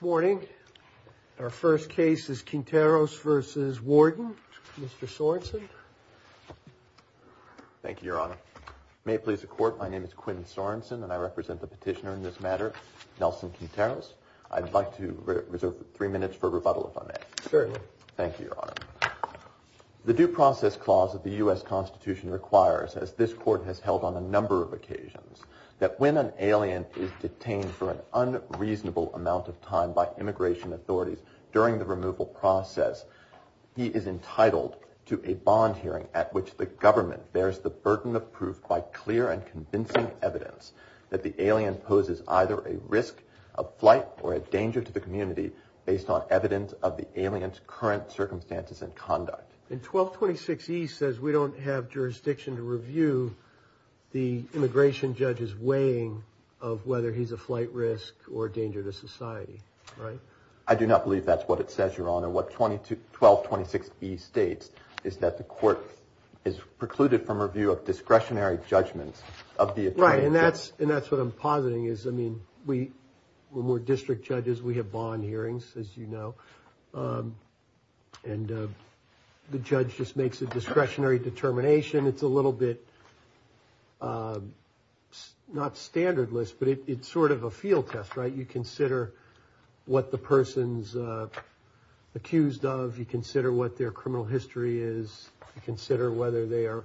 Good morning. Our first case is Quinteros v. Warden. Mr. Sorensen. Thank you, Your Honor. May it please the Court, my name is Quinn Sorensen and I represent the petitioner in this matter, Nelson Quinteros. I'd like to reserve three minutes for rebuttal if I may. Certainly. Thank you, Your Honor. The Due Process Clause of the U.S. Constitution requires, as this Court has held on a number of occasions, that when an alien is detained for an unreasonable amount of time by immigration authorities during the removal process, he is entitled to a bond hearing at which the government bears the burden of proof by clear and convincing evidence that the alien poses either a risk of flight or a danger to the community based on evidence of the alien's current circumstances and conduct. And 1226E says we don't have jurisdiction to review the immigration judge's weighing of whether he's a flight risk or a danger to society, right? I do not believe that's what it says, Your Honor. What 1226E states is that the Court is precluded from review of discretionary judgments of the attorney. Right, and that's what I'm positing is, I mean, when we're district judges, we have bond hearings, as you know, and the judge just makes a discretionary determination. It's a little bit, not standardless, but it's sort of a field test, right? You consider what the person's accused of, you consider what their criminal history is, you consider whether they are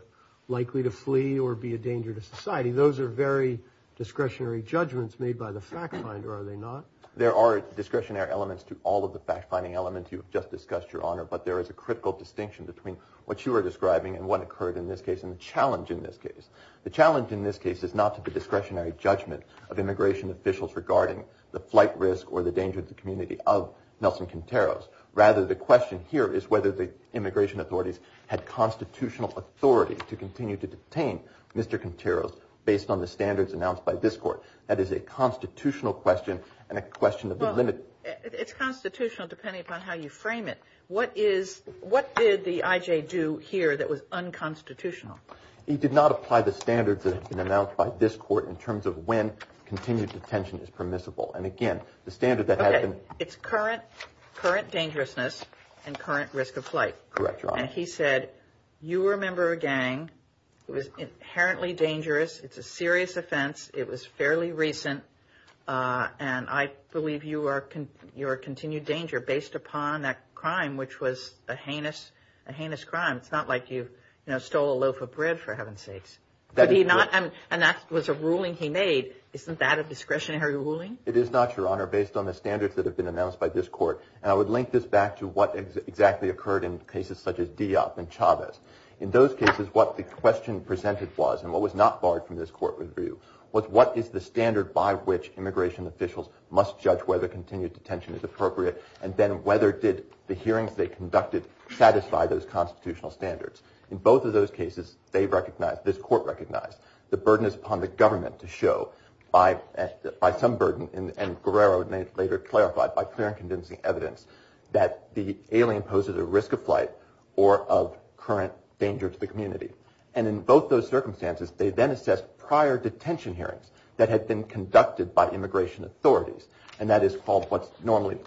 likely to flee or be a danger to society. Those are very discretionary judgments made by the fact finder, are they not? There are discretionary elements to all of the fact-finding elements you've just discussed, Your Honor, but there is a critical distinction between what you are describing and what occurred in this case and the challenge in this case. The challenge in this case is not to the discretionary judgment of immigration officials regarding the flight risk or the danger to the community of Nelson Quinteros. Rather, the question here is whether the immigration authorities had constitutional authority to continue to detain Mr. Quinteros based on the standards announced by this Court. That is a constitutional question and a question of the limit. Well, it's constitutional depending upon how you frame it. What is, what did the I.J. do here that was unconstitutional? He did not apply the standards that have been announced by this Court in terms of when continued detention is permissible. And again, the standard that has been... Okay. It's current, current dangerousness and current risk of flight. Correct, Your Honor. And he said, you were a member of a gang. It was inherently dangerous. It's a serious offense. It was fairly recent. And I believe you are, you are a continued danger based upon that crime, which was a heinous, a heinous crime. It's not like you, you know, stole a loaf of bread, for heaven's sakes. That is correct. And that was a ruling he made. Isn't that a discretionary ruling? It is not, Your Honor, based on the standards that have been announced by this Court. And I would link this back to what exactly occurred in cases such as Diop and Chavez. In those cases, what the question presented was and what was not barred from this Court review was what is the standard by which immigration officials must judge whether continued detention is appropriate and then whether did the hearings they conducted satisfy those constitutional standards. In both of those cases, they recognized, this Court recognized, the burden is upon the government to show by some burden and Guerrero later clarified by clear and convincing evidence that the alien poses a risk of flight or of current danger to the community. And in both those circumstances, they then assessed prior detention hearings that had been conducted by immigration authorities. And that is called what's normally...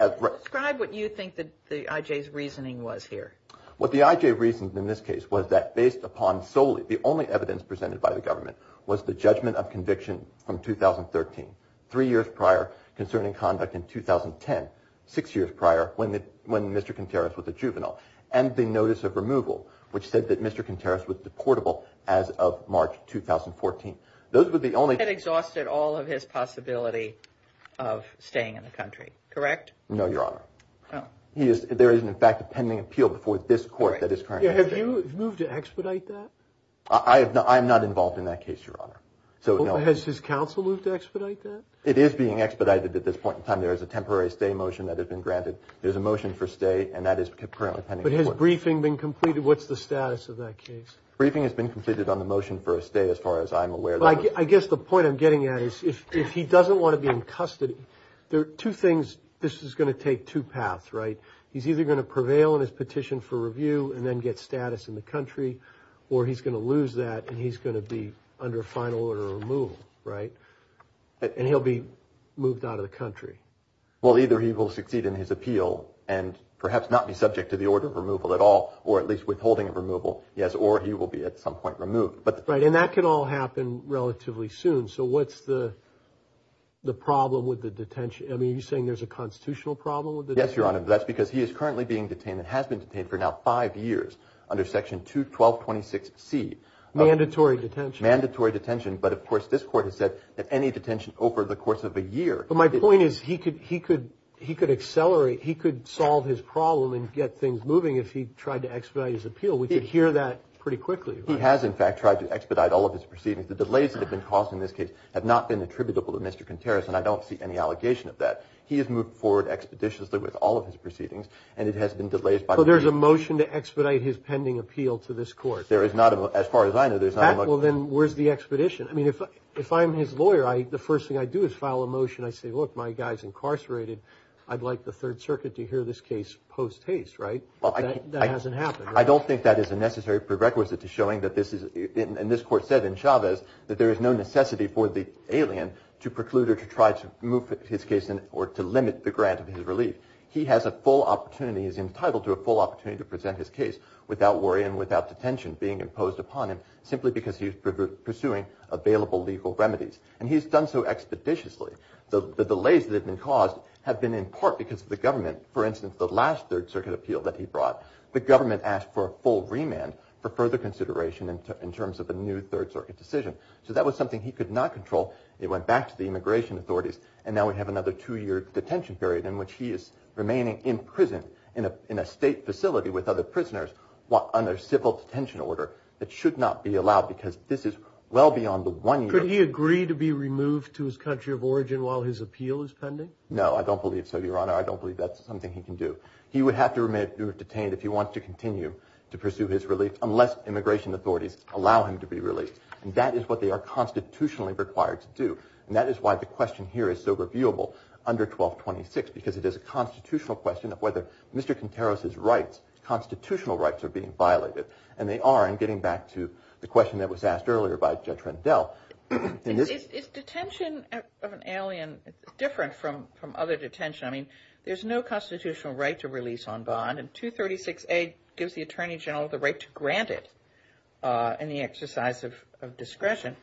Describe what you think the IJ's reasoning was here. What the IJ reasoned in this case was that based upon solely the only evidence presented by the government was the judgment of conviction from 2013, three years prior concerning conduct in 2010, six years prior when Mr. Contreras was a juvenile, and the notice of removal which said that Mr. Contreras was deportable as of March 2014. Those were the only... That exhausted all of his possibility of staying in the country, correct? No, Your Honor. There is, in fact, a pending appeal before this Court that is currently... Have you moved to expedite that? I'm not involved in that case, Your Honor. Has his counsel moved to expedite that? It is being expedited at this point in time. There is a temporary stay motion that has been granted. There's a motion for stay and that is currently pending. But has briefing been completed? What's the status of that case? Briefing has been completed on the motion for a stay as far as I'm aware. I guess the point I'm getting at is if he doesn't want to be in custody, there are two things... This is going to take two paths, right? He's either going to prevail in his petition for review and then get status in the country or he's going to lose that and he's going to be under final order of removal, right? And he'll be moved out of the country. Well, either he will succeed in his appeal and perhaps not be subject to the order of removal at all or at least withholding of removal, yes, or he will be at some point removed. Right, and that can all happen relatively soon. So what's the problem with the detention? I mean, are you saying there's a constitutional problem with the detention? Yes, Your Honor, that's because he is currently being detained and has been detained for now five years under Section 21226C of... Mandatory detention. Mandatory detention, but of course this Court has said that any detention over the course of a year... But my point is he could accelerate, he could solve his problem and get things moving if he tried to expedite his appeal. We could hear that pretty quickly, right? He has, in fact, tried to expedite all of his proceedings. The delays that have been caused in this case have not been attributable to Mr. Contreras and I don't see any allegation of that. He has moved forward expeditiously with all of his proceedings and it has been delayed by... There is no pending appeal to this Court. There is not, as far as I know, there's not... Well, then where's the expedition? I mean, if I'm his lawyer, the first thing I do is file a motion. I say, look, my guy's incarcerated. I'd like the Third Circuit to hear this case post-haste, right? That hasn't happened, right? I don't think that is a necessary prerequisite to showing that this is... And this Court said in Chavez that there is no necessity for the alien to preclude or to try to move his case or to limit the grant of his relief. He has a full opportunity, is entitled to a full opportunity to present his case without worry and without detention being imposed upon him simply because he's pursuing available legal remedies. And he's done so expeditiously. The delays that have been caused have been in part because of the government. For instance, the last Third Circuit appeal that he brought, the government asked for a full remand for further consideration in terms of a new Third Circuit decision. So that was something he could not control. It went back to the immigration authorities and now we have another two-year detention period in which he is remaining in prison in a state facility with other prisoners under civil detention order. It should not be allowed because this is well beyond the one-year... Could he agree to be removed to his country of origin while his appeal is pending? No, I don't believe so, Your Honor. I don't believe that's something he can do. He would have to remain detained if he wants to continue to pursue his relief unless immigration authorities allow him to be released. And that is what they are constitutionally required to do. And that is why the question here is so reviewable under 1226 because it is a constitutional question of whether Mr. Contreras' constitutional rights are being violated. And they are in getting back to the question that was asked earlier by Judge Rendell. Is detention of an alien different from other detention? I mean, there's no constitutional right to release on bond and 236A gives the Attorney General the right to grant it in the exercise of discretion.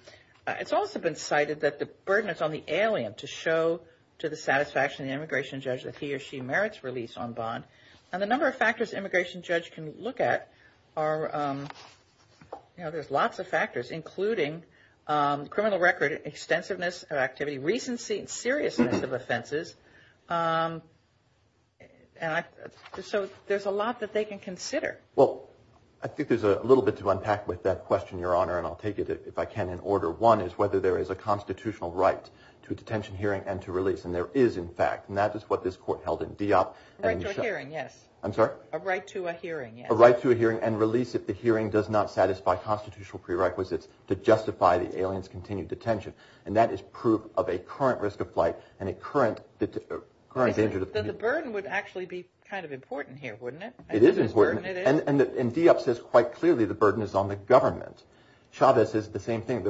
It's also been cited that the burden is on the alien to show to the satisfaction of the immigration judge that he or she merits release on bond. And the number of factors an immigration judge can look at are, you know, there's lots of factors including criminal record, extensiveness of activity, recency, seriousness of offenses. So there's a lot that they can consider. Well, I think there's a little bit to unpack with that question, Your Honor, and I'll take it if I can in order. One is whether there is a constitutional right to a detention hearing and to release. And there is, in fact, and that is what this court held in Dieppe. A right to a hearing, yes. I'm sorry? A right to a hearing, yes. A right to a hearing and release if the hearing does not satisfy constitutional prerequisites to justify the alien's continued detention. And that is proof of a current risk of flight and a current danger. The burden would actually be kind of important here, wouldn't it? It is important. And Dieppe says quite clearly the burden is on the government. Chavez says the same thing.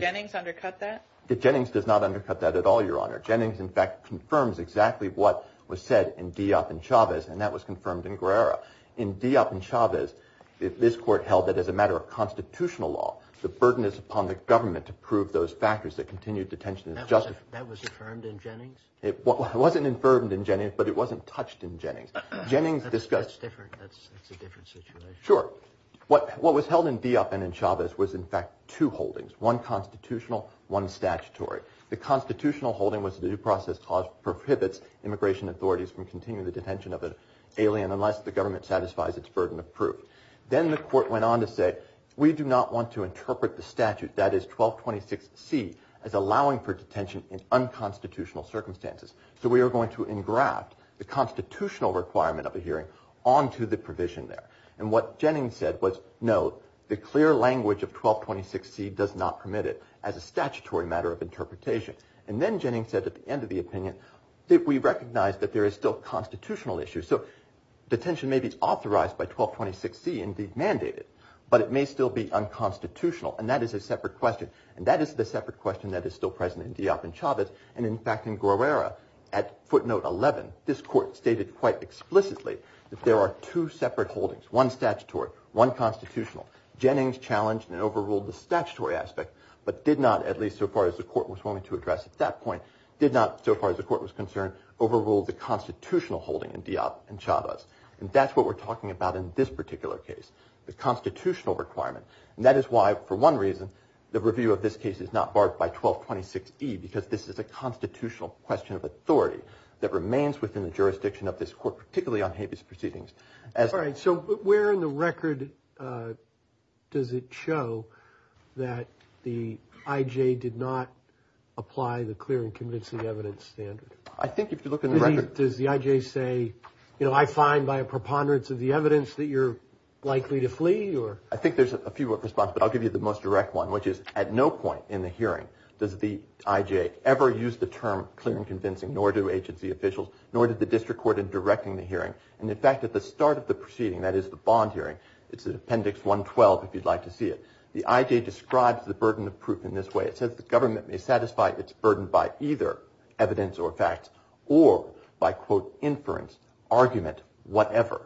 Jennings undercut that? Jennings does not undercut that at all, Your Honor. Jennings, in fact, confirms exactly what was said in Dieppe and Chavez, and that was confirmed in Guerra. In Dieppe and Chavez, this court held that as a matter of constitutional law, the burden is upon the government to prove those factors that continued detention. That was affirmed in Jennings? It wasn't affirmed in Jennings, but it wasn't touched in Jennings. That's different. That's a different situation. Sure. What was held in Dieppe and in Chavez was, in fact, two holdings. One constitutional, one statutory. The constitutional holding was that the due process clause prohibits immigration authorities from continuing the detention of an alien unless the government satisfies its burden of proof. Then the court went on to say, we do not want to interpret the statute, that is 1226C, as allowing for detention in unconstitutional circumstances. So we are going to engraft the constitutional requirement of a hearing onto the provision there. And what Jennings said was, no, the clear language of 1226C does not permit it as a statutory matter of interpretation. And then Jennings said at the end of the opinion that we recognize that there is still a constitutional issue. So detention may be authorized by 1226C and be mandated, but it may still be unconstitutional. And that is a separate question. And that is the separate question that is still present in Dieppe and Chavez. And in fact, in Guerrera, at footnote 11, this court stated quite explicitly that there are two separate holdings, one statutory, one constitutional. Jennings challenged and overruled the statutory aspect, but did not, at least so far as the court was willing to address at that point, did not, so far as the court was concerned, overrule the constitutional holding in Dieppe and Chavez. And that is what we are talking about in this particular case, the constitutional requirement. And that is why, for one reason, the review of this case is not barred by 1226E because this is a constitutional question of authority that remains within the jurisdiction of this court, particularly on habeas proceedings. All right. So where in the record does it show that the I.J. did not apply the clear and convincing evidence standard? I think if you look in the record. Does the I.J. say, you know, I find by a preponderance of the evidence that you are likely to flee? I think there is a few responses, but I will give you the most direct one, which is at no point in the hearing does the I.J. ever use the term clear and convincing, nor do agency officials, nor did the district court in directing the hearing. At the start of the proceeding, that is the bond hearing, it is in appendix 112 if you would like to see it, the I.J. describes the burden of proof in this way. It says the government may satisfy its burden by either evidence or facts or by, quote, inference, argument, whatever.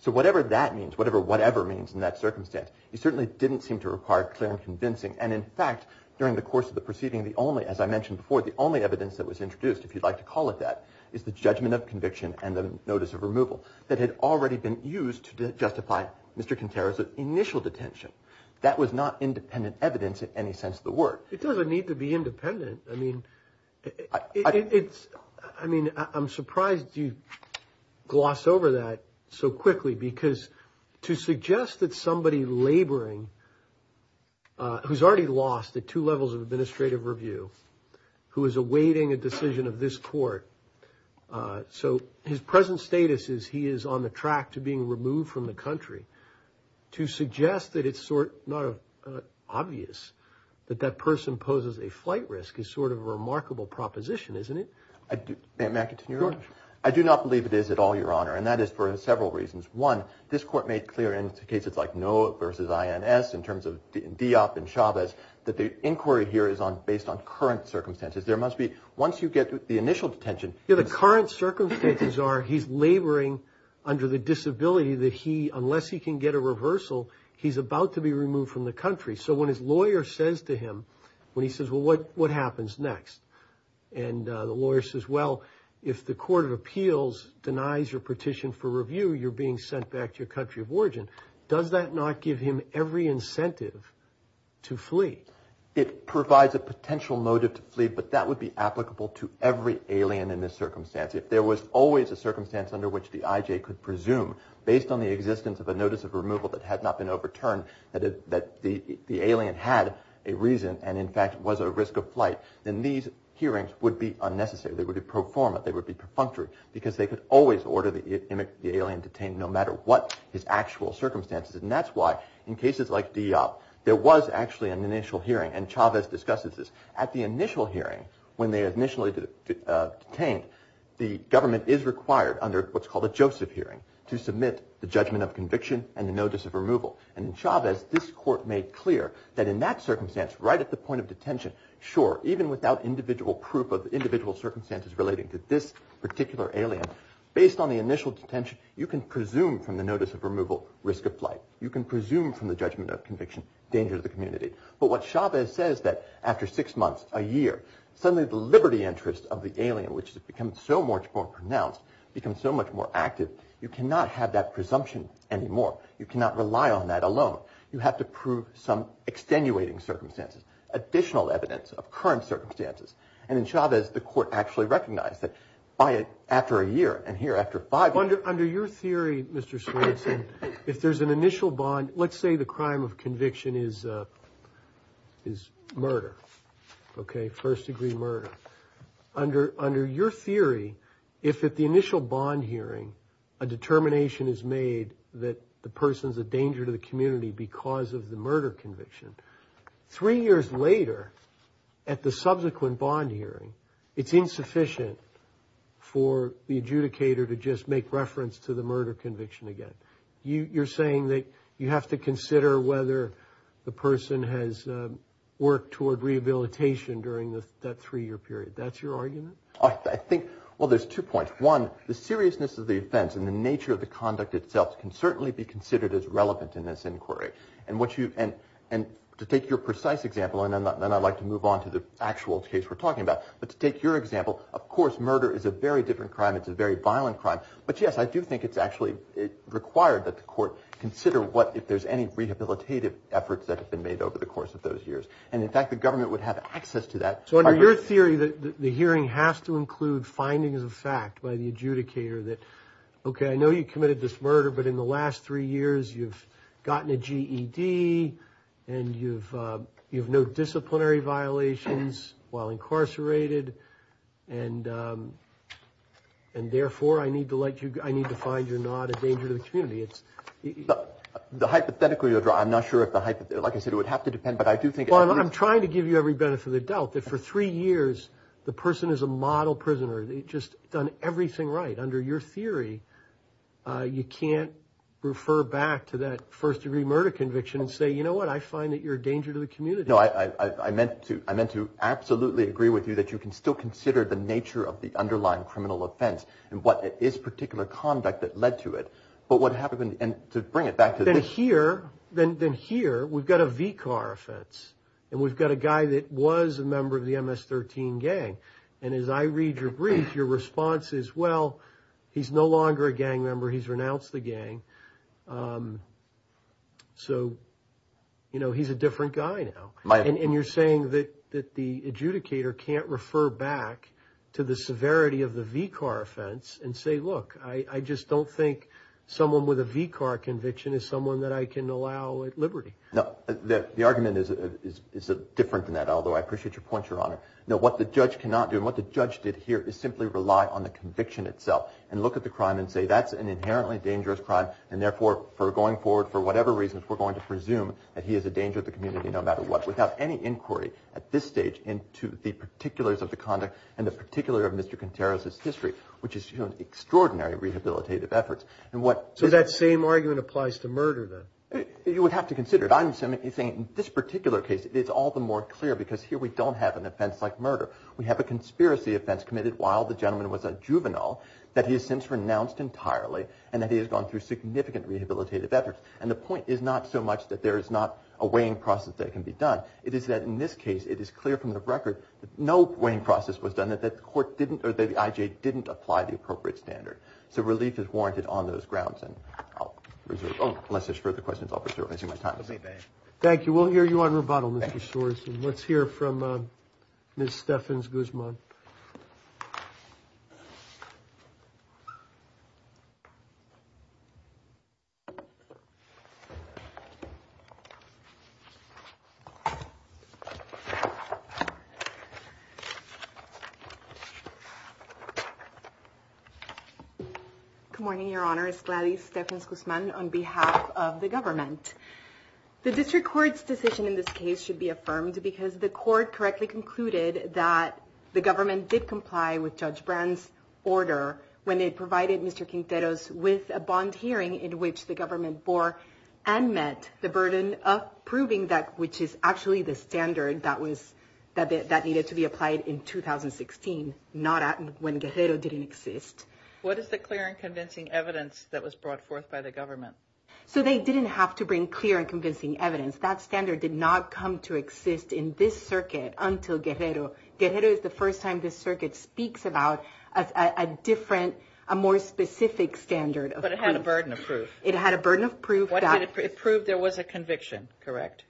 So whatever that means, whatever whatever means in that circumstance, he certainly didn't seem to require clear and convincing. And in fact, during the course of the proceeding, as I mentioned before, the only evidence that was introduced, if you would like to call it that, had actually been used to justify Mr. Contreras' initial detention. That was not independent evidence in any sense of the word. It doesn't need to be independent. I mean, it's, I mean, I'm surprised you gloss over that so quickly because to suggest that somebody laboring, who's already lost at two levels of administrative review, who is awaiting a decision of this court, so his present status is he is on the track to being removed from the country, to suggest that it's not obvious that that person poses a flight risk is sort of a remarkable proposition, isn't it? May I continue, Your Honor? I do not believe it is at all, Your Honor, and that is for several reasons. One, this court made clear in cases like Noah versus INS in terms of Diop and Chavez that the inquiry here is based on current circumstances. There must be, once you get the initial detention... Yeah, the current circumstances are that he's laboring under the disability that he, unless he can get a reversal, he's about to be removed from the country. So when his lawyer says to him, when he says, well, what happens next? And the lawyer says, well, if the court of appeals denies your petition for review, you're being sent back to your country of origin. Does that not give him every incentive to flee? It provides a potential motive to flee, but that would be applicable to every alien in this circumstance. If there was always a circumstance under which the IJ could presume, based on the existence of a notice of removal that had not been overturned, that the alien had a reason and, in fact, was a risk of flight, then these hearings would be unnecessary. They would be pro forma. They would be perfunctory because they could always order the alien detained no matter what his actual circumstances. And that's why in cases like Diop there was actually an initial hearing, and Chavez discusses this. At the initial hearing, the government is required under what's called a Joseph hearing to submit the judgment of conviction and the notice of removal. And in Chavez, this court made clear that in that circumstance, right at the point of detention, sure, even without individual proof of individual circumstances relating to this particular alien, based on the initial detention, you can presume from the notice of removal risk of flight. You can presume from the judgment of conviction danger to the community. And if the alien is so much more pronounced, becomes so much more active, you cannot have that presumption anymore. You cannot rely on that alone. You have to prove some extenuating circumstances, additional evidence of current circumstances. And in Chavez, the court actually recognized that after a year, and here after five years... Under your theory, Mr. Swanson, if there's an initial bond, let's say the crime of conviction is murder, okay, first-degree murder. Under your theory, if at the initial bond hearing a determination is made that the person's a danger to the community because of the murder conviction, three years later, at the subsequent bond hearing, it's insufficient for the adjudicator to just make reference to the murder conviction again. You're saying that you have to consider whether the person has worked toward rehabilitation during that three-year period. That's your argument? Well, there's two points. One, the seriousness of the offense and the nature of the conduct itself can certainly be considered as relevant in this inquiry. And to take your precise example, and then I'd like to move on to the actual case we're talking about, but to take your example, of course, murder is a very different crime. It's a very violent crime. But yes, I do think it's actually required that the court consider if there's any rehabilitative efforts that have been made by the fact, by the adjudicator, that, okay, I know you committed this murder, but in the last three years, you've gotten a GED and you've no disciplinary violations while incarcerated, and therefore, I need to find you're not a danger to the community. The hypothetical you're drawing, I'm not sure if the hypothetical, like I said, it would have to depend, but I do think... Well, I'm trying to give you every benefit of the doubt that for three years, the person is a model prisoner. They've just done everything right. Under your theory, you can't refer back to that first-degree murder conviction and say, you know what, I find that you're a danger to the community. No, I meant to absolutely agree with you that you can still consider the nature of the underlying criminal offense and what is particular conduct that led to it. But what happened, and to bring it back to this... It was a member of the MS-13 gang. And as I read your brief, your response is, well, he's no longer a gang member. He's renounced the gang. So, you know, he's a different guy now. And you're saying that the adjudicator can't refer back to the severity of the V-car offense and say, look, I just don't think someone with a V-car conviction is someone that I can allow at liberty. The argument is different than that. Although I appreciate your point, Your Honor. No, what the judge cannot do and what the judge did here is simply rely on the conviction itself and look at the crime and say, that's an inherently dangerous crime and therefore, for going forward, for whatever reasons, we're going to presume that he is a danger to the community no matter what, without any inquiry at this stage into the particulars of the conduct and the particular of Mr. Contreras' history, which is extraordinary rehabilitative efforts. So that same argument applies to murder, then? You would have to consider it. I'm saying in this particular case, it's all the more clear because here we don't have an offense like murder. We have a conspiracy offense committed while the gentleman was a juvenile that he has since renounced entirely and that he has gone through significant rehabilitative efforts. And the point is not so much that there is not a weighing process that can be done. It is that in this case, it is clear from the record that no weighing process was done on those grounds. Unless there's further questions, I'll preserve my time. Thank you. We'll hear you on rebuttal, Mr. Soares. Let's hear from Ms. Stephens-Guzman. Good morning, Your Honor. It's Gladys Stephens-Guzman on behalf of the government. The district court's decision in this case should be affirmed significant rehabilitative efforts while the gentleman was a juvenile that he has since renounced entirely and that he has gone through And the point is not so much that there is not a weighing process that can be done on those grounds. It is that in this case, that he has since renounced entirely and that he has gone through But it had a burden of proof. It had a burden of proof. It proved there was a conviction, correct?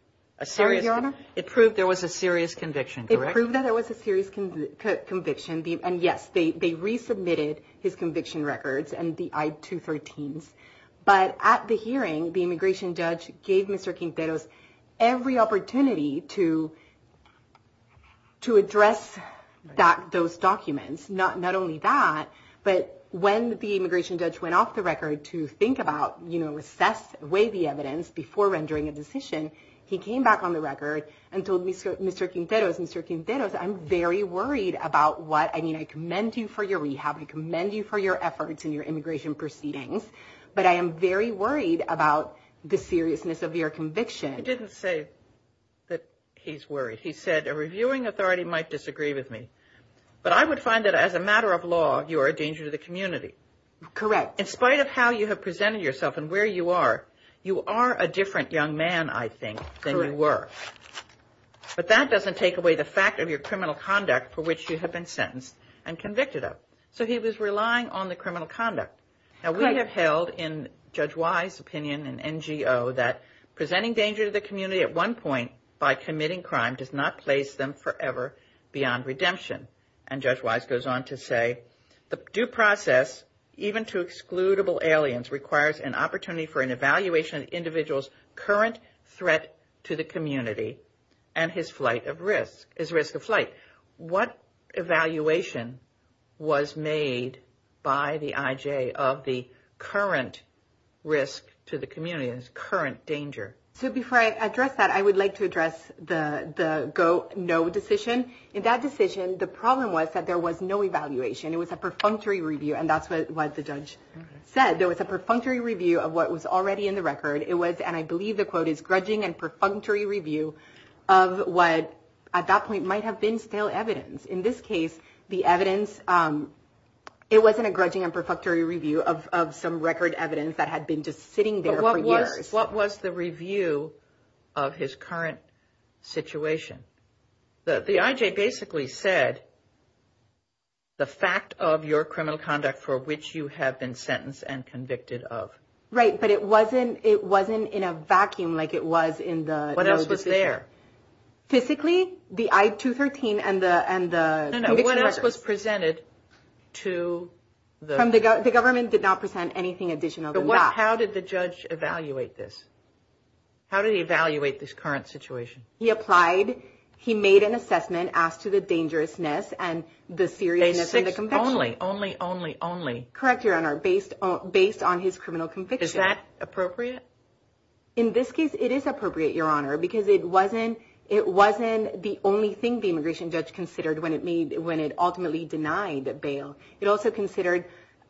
Sorry, Your Honor? It proved there was a serious conviction, correct? It proved that there was a serious conviction. And yes, they resubmitted his conviction records and the I-213s. But at the hearing, the immigration judge gave Mr. Quinteros every opportunity to address those documents. Not only that, but when the immigration judge went off the record to think about, assess, weigh the evidence before rendering a decision, he came back on the record and told Mr. Quinteros, I'm very worried about what, I mean, I commend you for your rehab. I commend you for your efforts and your immigration proceedings. But I am very worried about the seriousness of your conviction. He didn't say that he's worried. He said, a reviewing authority might disagree with me. But I would find that as a matter of law, you are a danger to the community. Correct. In spite of how you have presented yourself and where you are, you are a different young man, I think, than you were. But that doesn't take away the fact of your criminal conduct for which you have been sentenced and convicted of. So he was relying on the criminal conduct. Now, we have held, in Judge Wise's opinion and NGO, that presenting danger to the community at one point by committing crime does not place them forever beyond redemption. And Judge Wise goes on to say, the due process, even to excludable aliens, requires an opportunity for an evaluation of an individual's risk to the community and his risk of flight. What evaluation was made by the IJ of the current risk to the community and its current danger? So before I address that, I would like to address the no decision. In that decision, the problem was that there was no evaluation. It was a perfunctory review. And that's what the judge said. There was a perfunctory review of what was already in the record. There was a perfunctory review of what at that point might have been stale evidence. In this case, the evidence, it wasn't a grudging and perfunctory review of some record evidence that had been just sitting there for years. But what was the review of his current situation? The IJ basically said, the fact of your criminal conduct for which you have been sentenced and convicted of. Right, but it wasn't in a vacuum of what was already there. Physically, the I-213 and the conviction records. No, no, what else was presented to the... The government did not present anything additional than that. How did the judge evaluate this? How did he evaluate this current situation? He applied, he made an assessment as to the dangerousness and the seriousness of the conviction. Only, only, only, only. Correct, Your Honor, based on his criminal conviction. It wasn't, it wasn't the only thing the immigration judge considered when it ultimately denied bail. It also considered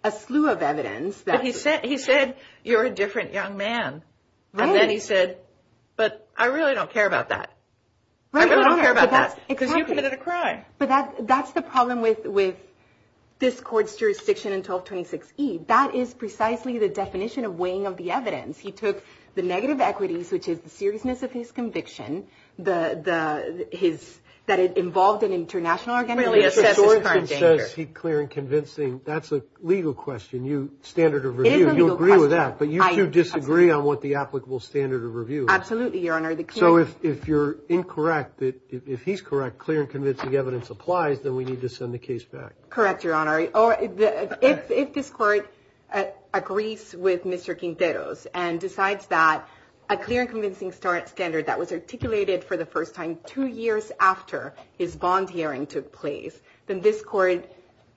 a slew of evidence. But he said, you're a different young man. And then he said, but I really don't care about that. I really don't care about that. Because you committed a crime. But that's the problem with this court's jurisdiction in 1226E. That is precisely the definition of weighing of the evidence. The, the, his, that it involved an international argument. Really, it says it's current danger. It says he's clear and convincing. That's a legal question. You, standard of review, you agree with that. But you do disagree on what the applicable standard of review is. Absolutely, Your Honor. So if you're incorrect, if he's correct, clear and convincing evidence applies, then we need to send the case back. Correct, Your Honor. If this court agrees with Mr. Quinteros for the first time, two years after his bond hearing took place, then this court,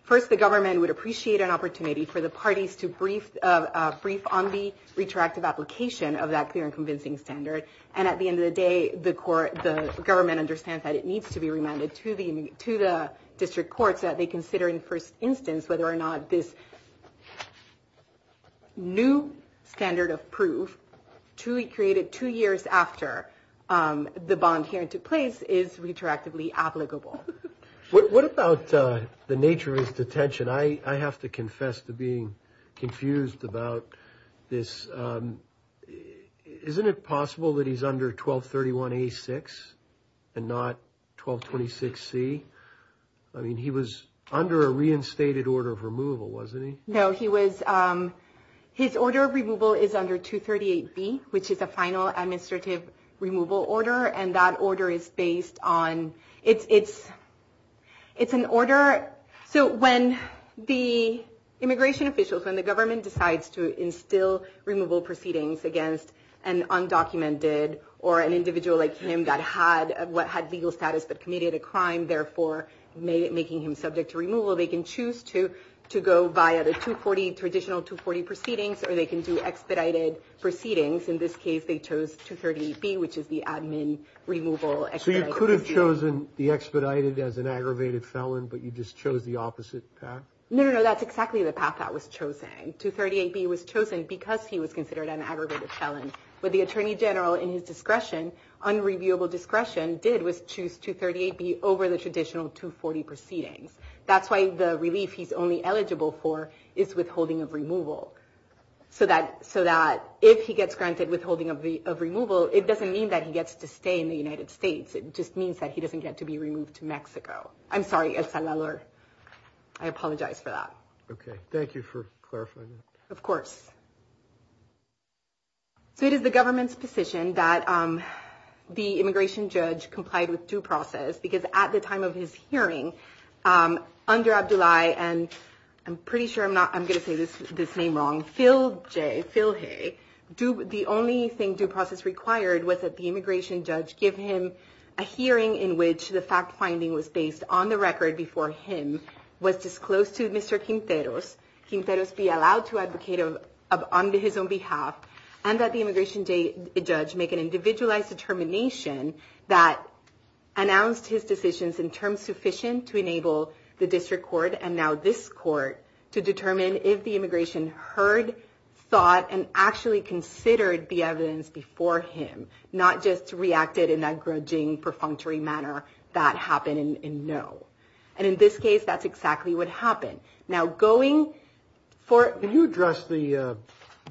first the government would appreciate an opportunity for the parties to brief on the retroactive application of that clear and convincing standard. And at the end of the day, the court, the government understands that it needs to be remanded to the, to the district courts that they consider in first instance whether or not this new standard of proof truly created two years after the bond hearing took place is retroactively applicable. What about the nature of his detention? I have to confess to being confused about this. Isn't it possible that he's under 1231A6 and not 1226C? I mean, he was under a reinstated order of removal, wasn't he? No, he was, his order of removal is under 238B, which is a final administrative removal order, and that order is based on, it's an order, so when the immigration officials, when the government decides to instill removal proceedings against an undocumented or an individual like him that had legal status but committed a crime, therefore making him subject to removal, they can choose to go via the traditional 240 proceedings or they can do expedited proceedings. In this case, they chose 238B, which is the admin removal expedited. So you could have chosen the expedited as an aggravated felon, but you just chose the opposite path? No, no, no, that's exactly the path that was chosen. 238B was chosen because he was considered an aggravated felon, but the attorney general in his discretion, unreviewable discretion, did was choose 238B over the traditional 240 proceedings. That's why the relief he's only eligible for is withholding of removal, so that if he gets granted withholding of removal, it doesn't mean that he gets to stay in the United States. It just means that he doesn't get to be removed to Mexico. I'm sorry, El Salvador. I apologize for that. Okay, thank you for clarifying that. Of course. So it is the government's position that the immigration judge complied with due process because at the time of his hearing, under Abdullahi, and I'm pretty sure I'm not, I'm going to say this name wrong, Phil Jay, Phil Hay, the only thing due process required was that the immigration judge give him a hearing in which the fact-finding was based on the record before him was disclosed to Mr. Quinteros, Quinteros be allowed to advocate on his own behalf, and that the immigration judge make an individualized determination that announced his decisions in terms sufficient to enable the district court, and now this court, to determine if the immigration heard, thought, and actually considered the evidence before him, not just reacted in that grudging, perfunctory manner that happened in no. And in this case, that's exactly what happened. Now, going for... Can you address the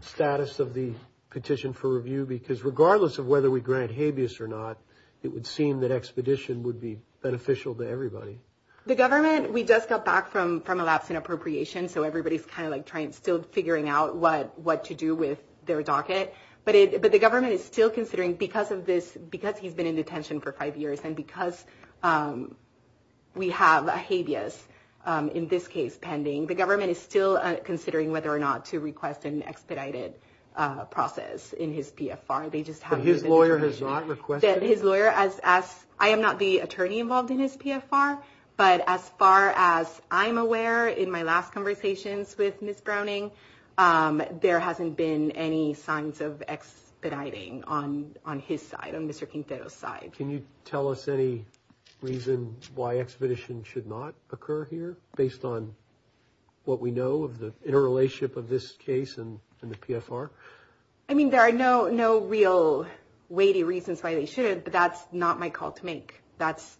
status of the petition for review? Because regardless of whether we grant habeas or not, it would seem that expedition would be beneficial to everybody. The government, we just got back from a lapse in appropriation, so everybody's kind of like still figuring out what to do with their docket. But the government is still considering, because of this, because he's been in detention for five years, and because we have a habeas, in this case, pending, the government is still considering whether or not to request an expedited process in his PFR. They just haven't... But his lawyer has not requested? His lawyer has asked... I am not the attorney involved in his PFR, but as far as I'm aware, in my last conversations with Ms. Browning, there hasn't been any signs of expediting on his side, on Mr. Quintero's side. Can you tell us any reason why expeditions should not occur here, based on what we know of the interrelationship of this case and the PFR? I mean, there are no real weighty reasons why they shouldn't, but that's not my call to make. That's...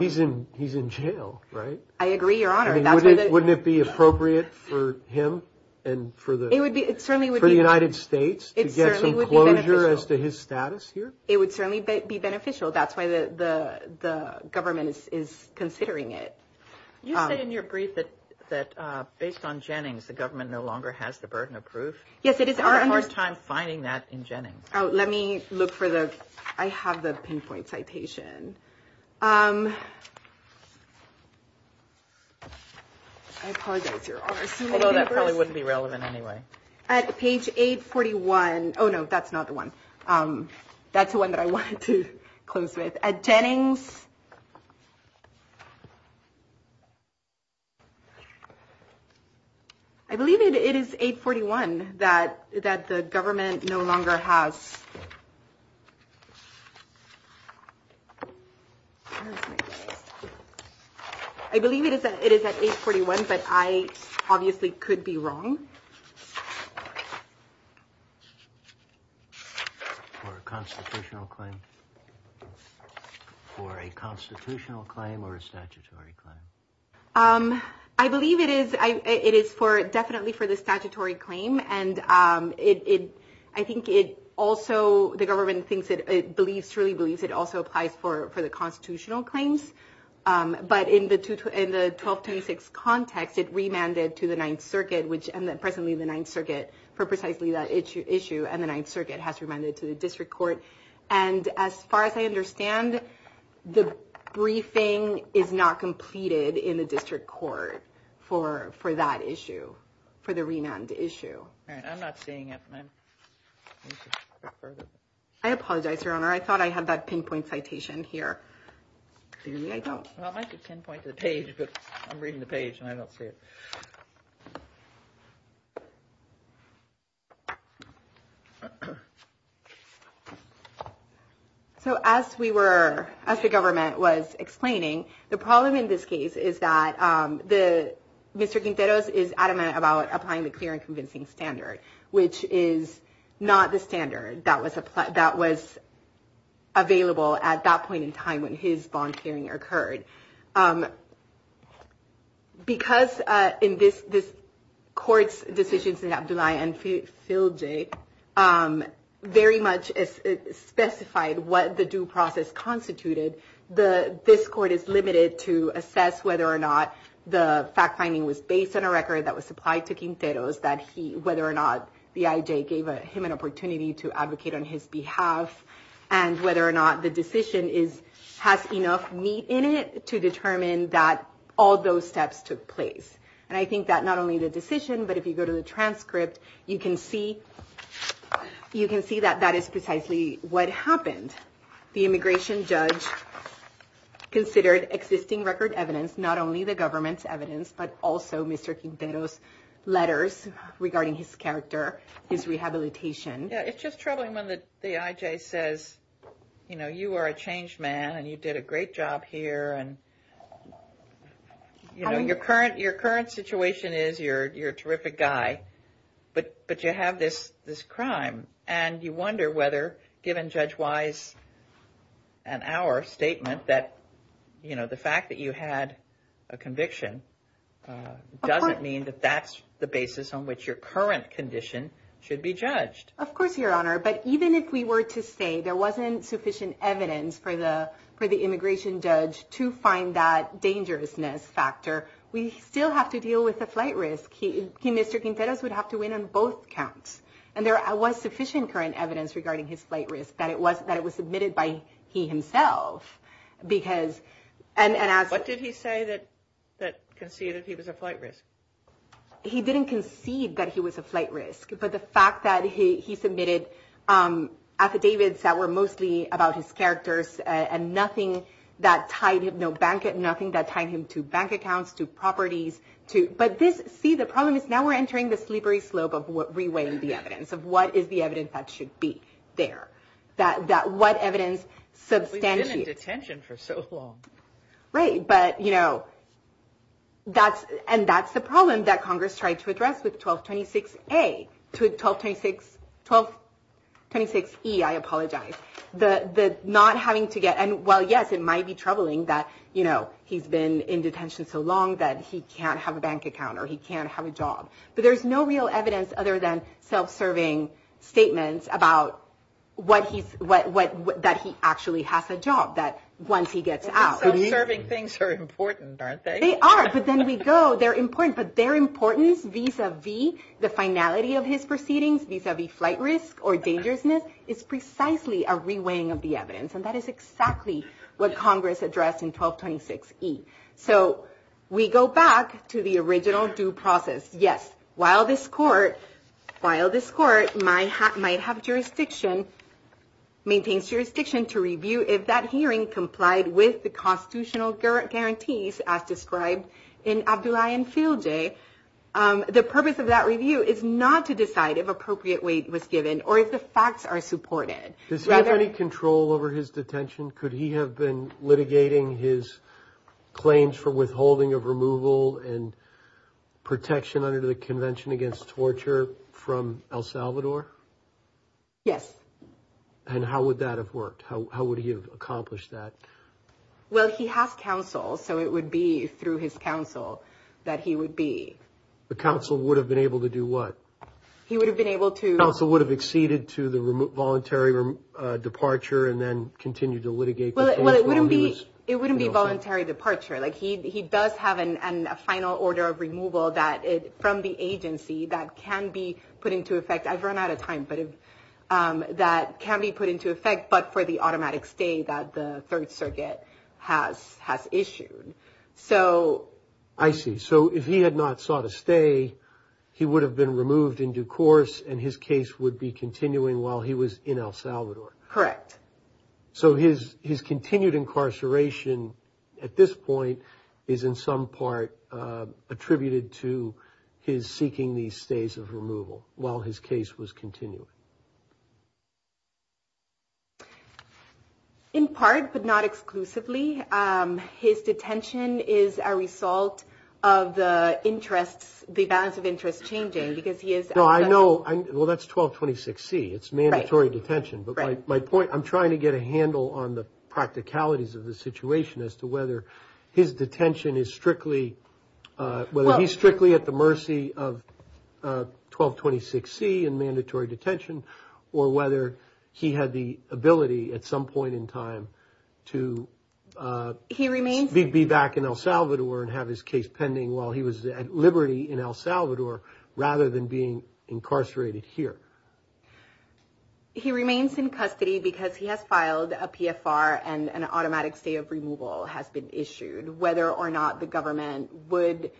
He's in jail, right? I agree, Your Honor. I mean, wouldn't it be appropriate for him and for the United States to get some closure as to his status here? It would certainly be beneficial. That's why the government is considering it. You say in your brief that based on Jennings, the government no longer has the burden of proof. Yes, it is. I had a hard time finding that in Jennings. Let me look for the... I have the pinpoint citation. I apologize, Your Honor. Although that probably wouldn't be relevant anyway. At page 841... Oh, no, that's not the one. That's the one that I wanted to close with. At Jennings... I believe it is 841 that the government no longer has... Where is my... I believe it is at 841, but I obviously could be wrong. For a constitutional claim? For a constitutional claim or a statutory claim? I believe it is... It is definitely for the statutory claim, and I think it also the government believes, truly believes it also applies for the constitutional claims. But in the 1226 context, it remanded to the Ninth Circuit, which presently the Ninth Circuit for precisely that issue, and the Ninth Circuit has remanded to the district court. And as far as I understand, the briefing is not completed in the district court for that issue, for the remand issue. I'm not seeing it. I apologize, Your Honor. I thought I had that pinpoint citation here. Clearly, I don't. Well, it might be pinpoint to the page, but I'm reading the page and I don't see it. So as we were... As the government was explaining, the problem in this case is that Mr. Quinteros is adamant about applying the clear and convincing standard, which is not the standard that was available at that point in time when his bond clearing occurred. Because in this court's decisions in Abdullahi and Filji, very much specified what the due process constituted, this court is limited to assess whether or not the fact finding was based on a record that was supplied to Quinteros that he, whether or not the IJ gave him an opportunity to advocate on his behalf and whether or not the decision has enough meat in it to determine that all those steps took place. And I think that not only the decision, but if you go to the transcript, you can see that that is precisely what happened. The immigration judge considered existing record evidence, not only the government's evidence, but also Mr. Quinteros's letters regarding his character, his rehabilitation. It's just troubling when the IJ says, you know, you are a changed man and you did a great job here and, you know, your current situation is you're a terrific guy, but you have this crime and you wonder whether given Judge Wise and our statement that, you know, the fact that you had a conviction doesn't mean that that's the basis on which your current condition should be judged. Of course, Your Honor, but even if we were to say there wasn't sufficient evidence for the immigration judge to find that dangerousness factor, we still have to deal with the flight risk. Mr. Quinteros would have to win on both counts. And there was sufficient current evidence regarding his flight risk that it was submitted by he himself because, and as... What did he say that conceded that he was a flight risk? He didn't concede that he was a flight risk, but the fact that he submitted affidavits that were mostly about his characters and nothing that tied him to bank accounts, to properties, to... But this... See, the problem is now we're entering the slippery slope of reweighing the evidence of what is the evidence that should be there. That what evidence We've been in detention for so long. Right, but, you know, that's... And that's the problem that Congress tried to address with 1226A to 1226... 1226E, I apologize. The not having to get... And while, yes, it might be troubling that, you know, he's been in detention so long that he can't have a bank account or he can't have a job. But there's no real evidence other than self-serving statements about what he's... That he actually has a job that once he gets out... Self-serving things are important, aren't they? They are, but then we go... They're important, but their importance vis-a-vis the finality of his proceedings, vis-a-vis flight risk or dangerousness is precisely a reweighing of the evidence. And that is exactly what Congress addressed in 1226E. So, we go back to the original due process. Yes, while this court while this court might have jurisdiction maintains jurisdiction to review if that hearing complied with the constitutional guarantees as described in Abdullahi and Field Day, the purpose of that review is not to decide if appropriate weight was given or if the facts are supported. Does he have any control over his detention? Could he have been litigating his claims for withholding of removal and protection under the Convention Against Torture from El Salvador? Yes. And how would that have worked? How would he have accomplished that? Well, he has counsel, so it would be through his counsel that he would be. The counsel would have been able to do what? He would have been able to... The counsel would have acceded to the voluntary departure and then continued to litigate the claims while he was... Well, he would have a final order of removal from the agency that can be put into effect. I've run out of time, but that can be put into effect but for the automatic stay that the Third Circuit has issued. So... I see. So if he had not sought a stay, he would have been removed in due course and his case would be continuing while he was in El Salvador. Correct. So his continued incarceration at this point is in some part attributed to his seeking these stays of removal while his case was continuing. In part, but not exclusively, his detention is a result of the interests, the balance of interest changing because he is... No, I know... Well, that's 1226C. It's mandatory detention, but my point... I'm trying to get a handle on the whether his detention is strictly, whether he's strictly at the mercy of 1226C and mandatory detention or whether he had the ability at some point in time to be back in El Salvador and have his case pending while he was at liberty in El Salvador rather than being incarcerated here. He remains in custody because he has filed a PFR and an automatic stay of removal has been issued. Whether or not the government would...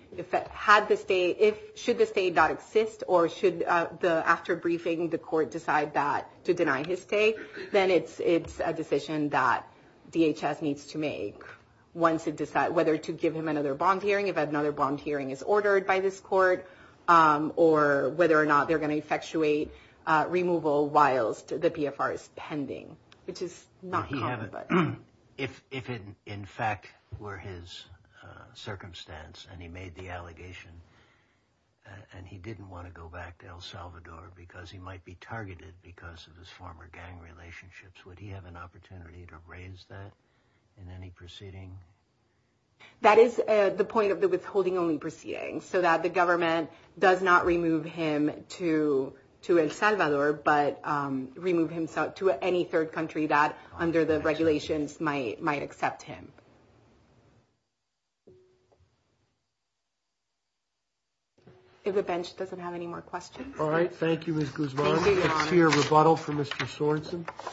Should the state not exist or should the after briefing the court decide that to deny his stay, then it's a decision that DHS needs to make once it decides whether to give him another bond or whether the hearing is ordered by this court or whether or not they're going to effectuate removal while the PFR is pending. Which is not common. If in fact were his circumstance and he made the allegation and he didn't want to go back to El Salvador because he might be targeted because of his former gang relationships, would he have an opportunity to raise that in any proceeding? That is the point of the withholding only proceeding so that the government does not remove him to El Salvador but remove him to any third country that under the regulations might accept him. If the bench doesn't accept him to El Salvador then the government will not remove him to any third country that under the regulations might accept him to El Salvador. If the government doesn't accept him to El Salvador then the government will not remove him to any third the regulations might accept him to El Salvador. If the government doesn't accept him to El Salvador then the government will not remove him to any third country that under the regulations might accept him to El If the then the government will not remove him to any third country that under the regulations might accept him to El Salvador. If the government doesn't government third country that under the regulations might accept him to El Salvador. If the government doesn't accept him to El Salvador then government to any third country that under the regulations might accept him to El Salvador. If the government doesn't accept him to El Salvador. If the government doesn't accept him to El Salvador. country that under the regulations might accept him to El Salvador. If the government doesn't accept him to El Salvador. then cannot meet the evidence. If it does not meet that standard it cannot continue to detain the alien. It has not met that standard yet. Ev everybody who had a bond hearing previously where somebody wants to say it's clear and convincing automatically they're entitled to a new bond hearing. There has to be a determination under Teague or whatever about whether it's of constitutional proportions. It does not because it's a continuing inquiry. If the bond hearing previously was adjudicated to allow for continued detention and then three years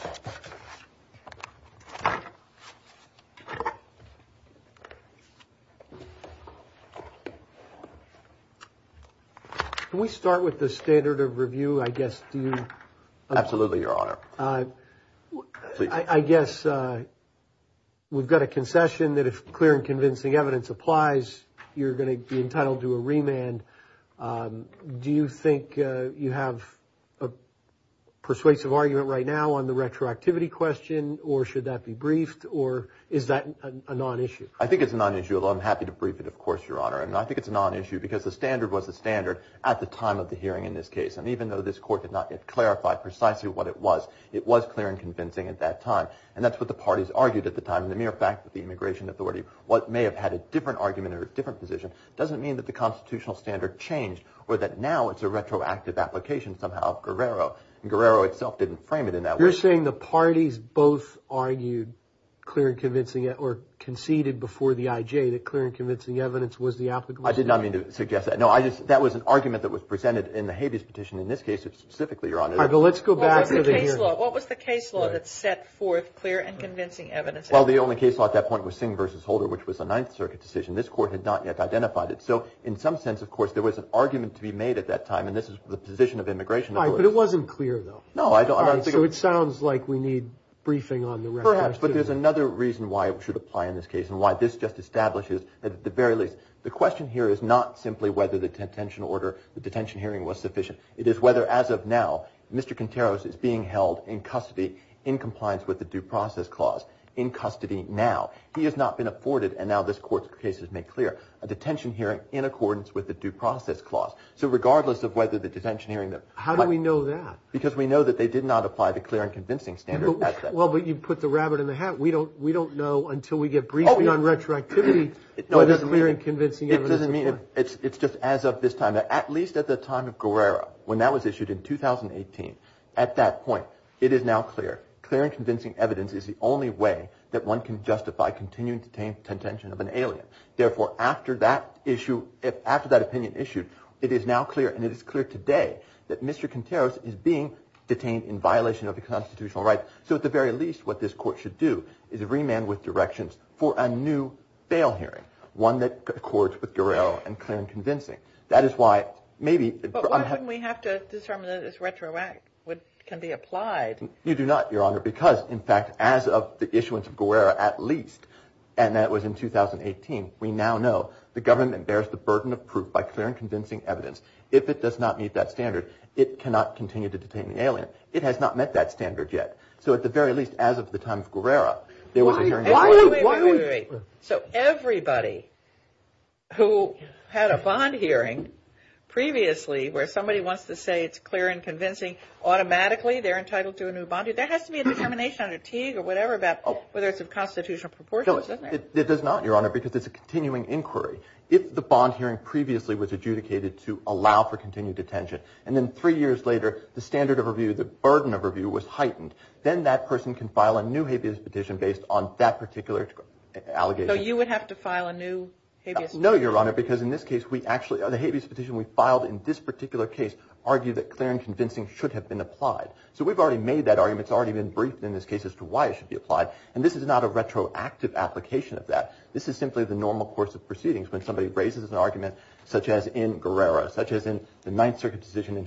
later the standard of review was heightened then that person can file a new habeas petition based on that particular allegation. You would have to file a new habeas petition? No because in this case the habeas petition should have been applied. So we've already made that argument. It's already been briefed in this case as to why it should be applied. And this is not a retroactive application of that. This is simply the normal course of proceedings when somebody raises an argument such as in Guerrero such as in the Ninth Circuit decision in confrontation clause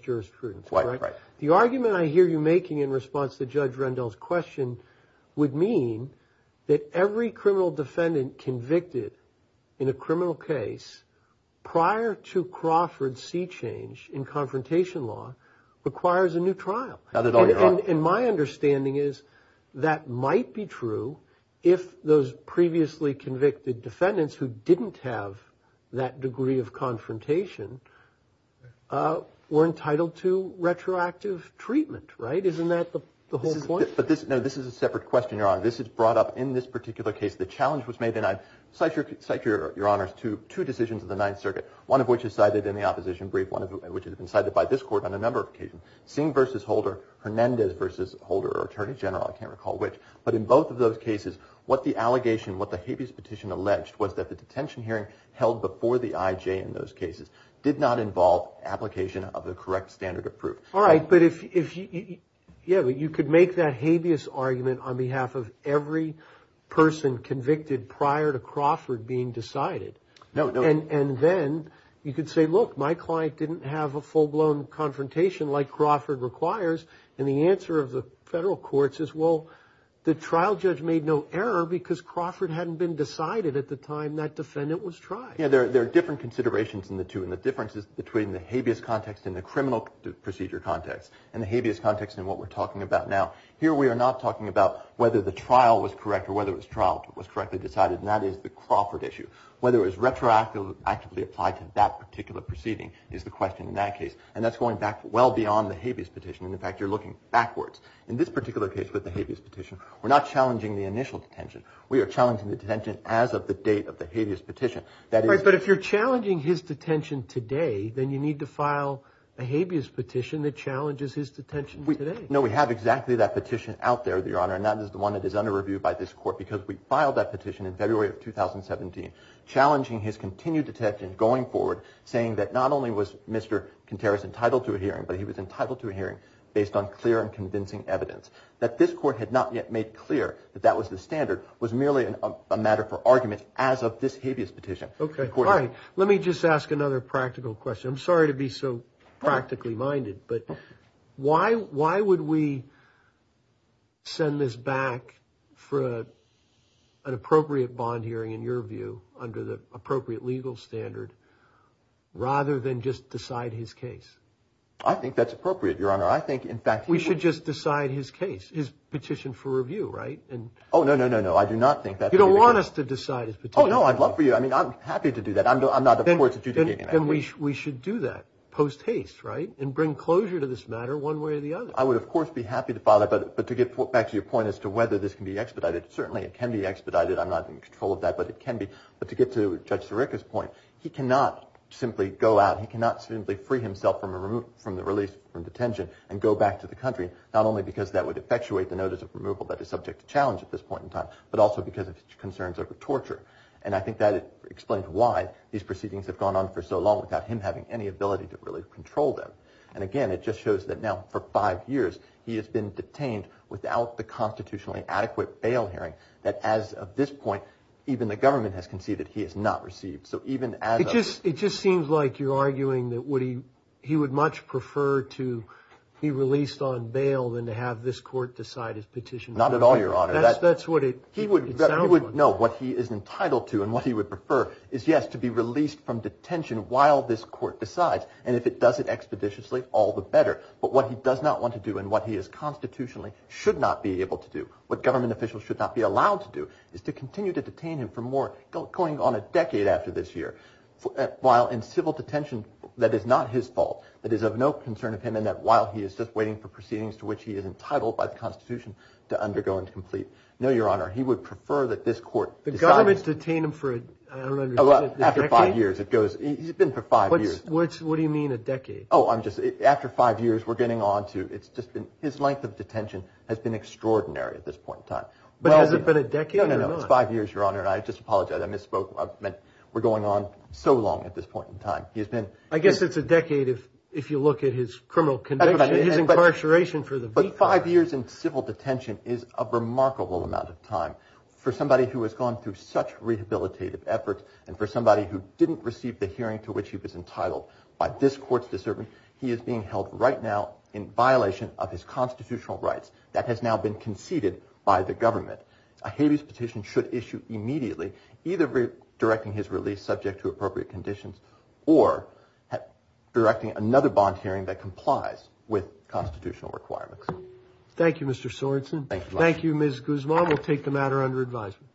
jurisprudence. The argument I hear you making in response to Judge Rendell's question would mean that every criminal defendant convicted in a criminal Crawford's sea change in confrontation law requires a new trial. And my understanding is that might be true if those previously were entitled to retroactive treatment, right? Isn't that the whole point? This is a separate question, Your Honor. This is brought up in this particular case. The challenge was made in two decisions in the Ninth Circuit, one of which is cited in the opposition brief, one of which has been cited by this court on behalf of every person convicted prior to Crawford being decided. And then you could say, look, my client didn't have a full-blown confrontation like Crawford requires, and the answer of the federal courts is, well, the trial judge made no error because Crawford hadn't been decided at the time that defendant was tried. Yeah, there are different considerations in the two, and the difference is between the habeas context and the criminal procedure context, and the habeas context in what we're talking about now. Here we are not talking about whether the trial was correct or whether the trial was correctly decided, and that is the Crawford issue. Whether it was retroactively applied to that particular proceeding is the question in that case, and that's going back well beyond the habeas petition, and in fact you're looking backwards. In this particular case with the habeas petition, we're not challenging the initial detention. We are challenging the detention as of the date of the hearing, and we are not going to review by this court because we filed that petition in February of 2017, challenging his continued detention going forward saying that not only was Mr. Contreras entitled to a hearing, but he was entitled to a hearing based on clear and convincing evidence. That this court had not yet made clear that that was the standard, was merely a matter for argument as of this habeas petition. Okay, fine. Let me just ask another practical question. I'm sorry to be so practically minded, but why would we send this back for an appropriate bond hearing in your view under the appropriate legal standard rather than just decide his case? I think that's appropriate, Your Honor. I think, in fact... We should just decide his case, his petition for review, right? Oh, no, no, no. I do not think that... You don't want us to decide his petition. Oh, no, I'd love for you, I mean, I'm happy to do that. I'm not of course adjudicating that. Then we should do that post haste, right, and bring closure to this matter one way or the other. I would, of course, be happy to file that, but to get back to your point as to whether this can be expedited, certainly it can be expedited. don't know why these proceedings have gone on for so long without him having any ability to really control them. And again, it just shows that now for five years he has been detained without the constitutionally adequate bail hearing that as of this point even the government has conceded he has not to do this. He has to be released from detention while this court decides. And if it does it expeditiously, all the better. But what he does not want to do and what he is constitutionally should not be able to do, what government officials should not be allowed to do, is to continue to detain him for more, going on a decade after this year, while in civil detention that is not his fault, that is of no concern of him, and that while he is just waiting for proceedings to which he is entitled by the constitution to undergo and complete. No, Your Honor, he would prefer that this court decides. The government has detained him for After five years. What do you mean a decade? After five years, his length of detention has been extraordinary at this point in time. But has it been a decade or not? No, it's five years, Your Honor, and I just apologize. I misspoke. We are going on to the end this case. Thank you, Mr. Sorensen. Thank you, Ms. Guzman. We'll take the matter under advisement.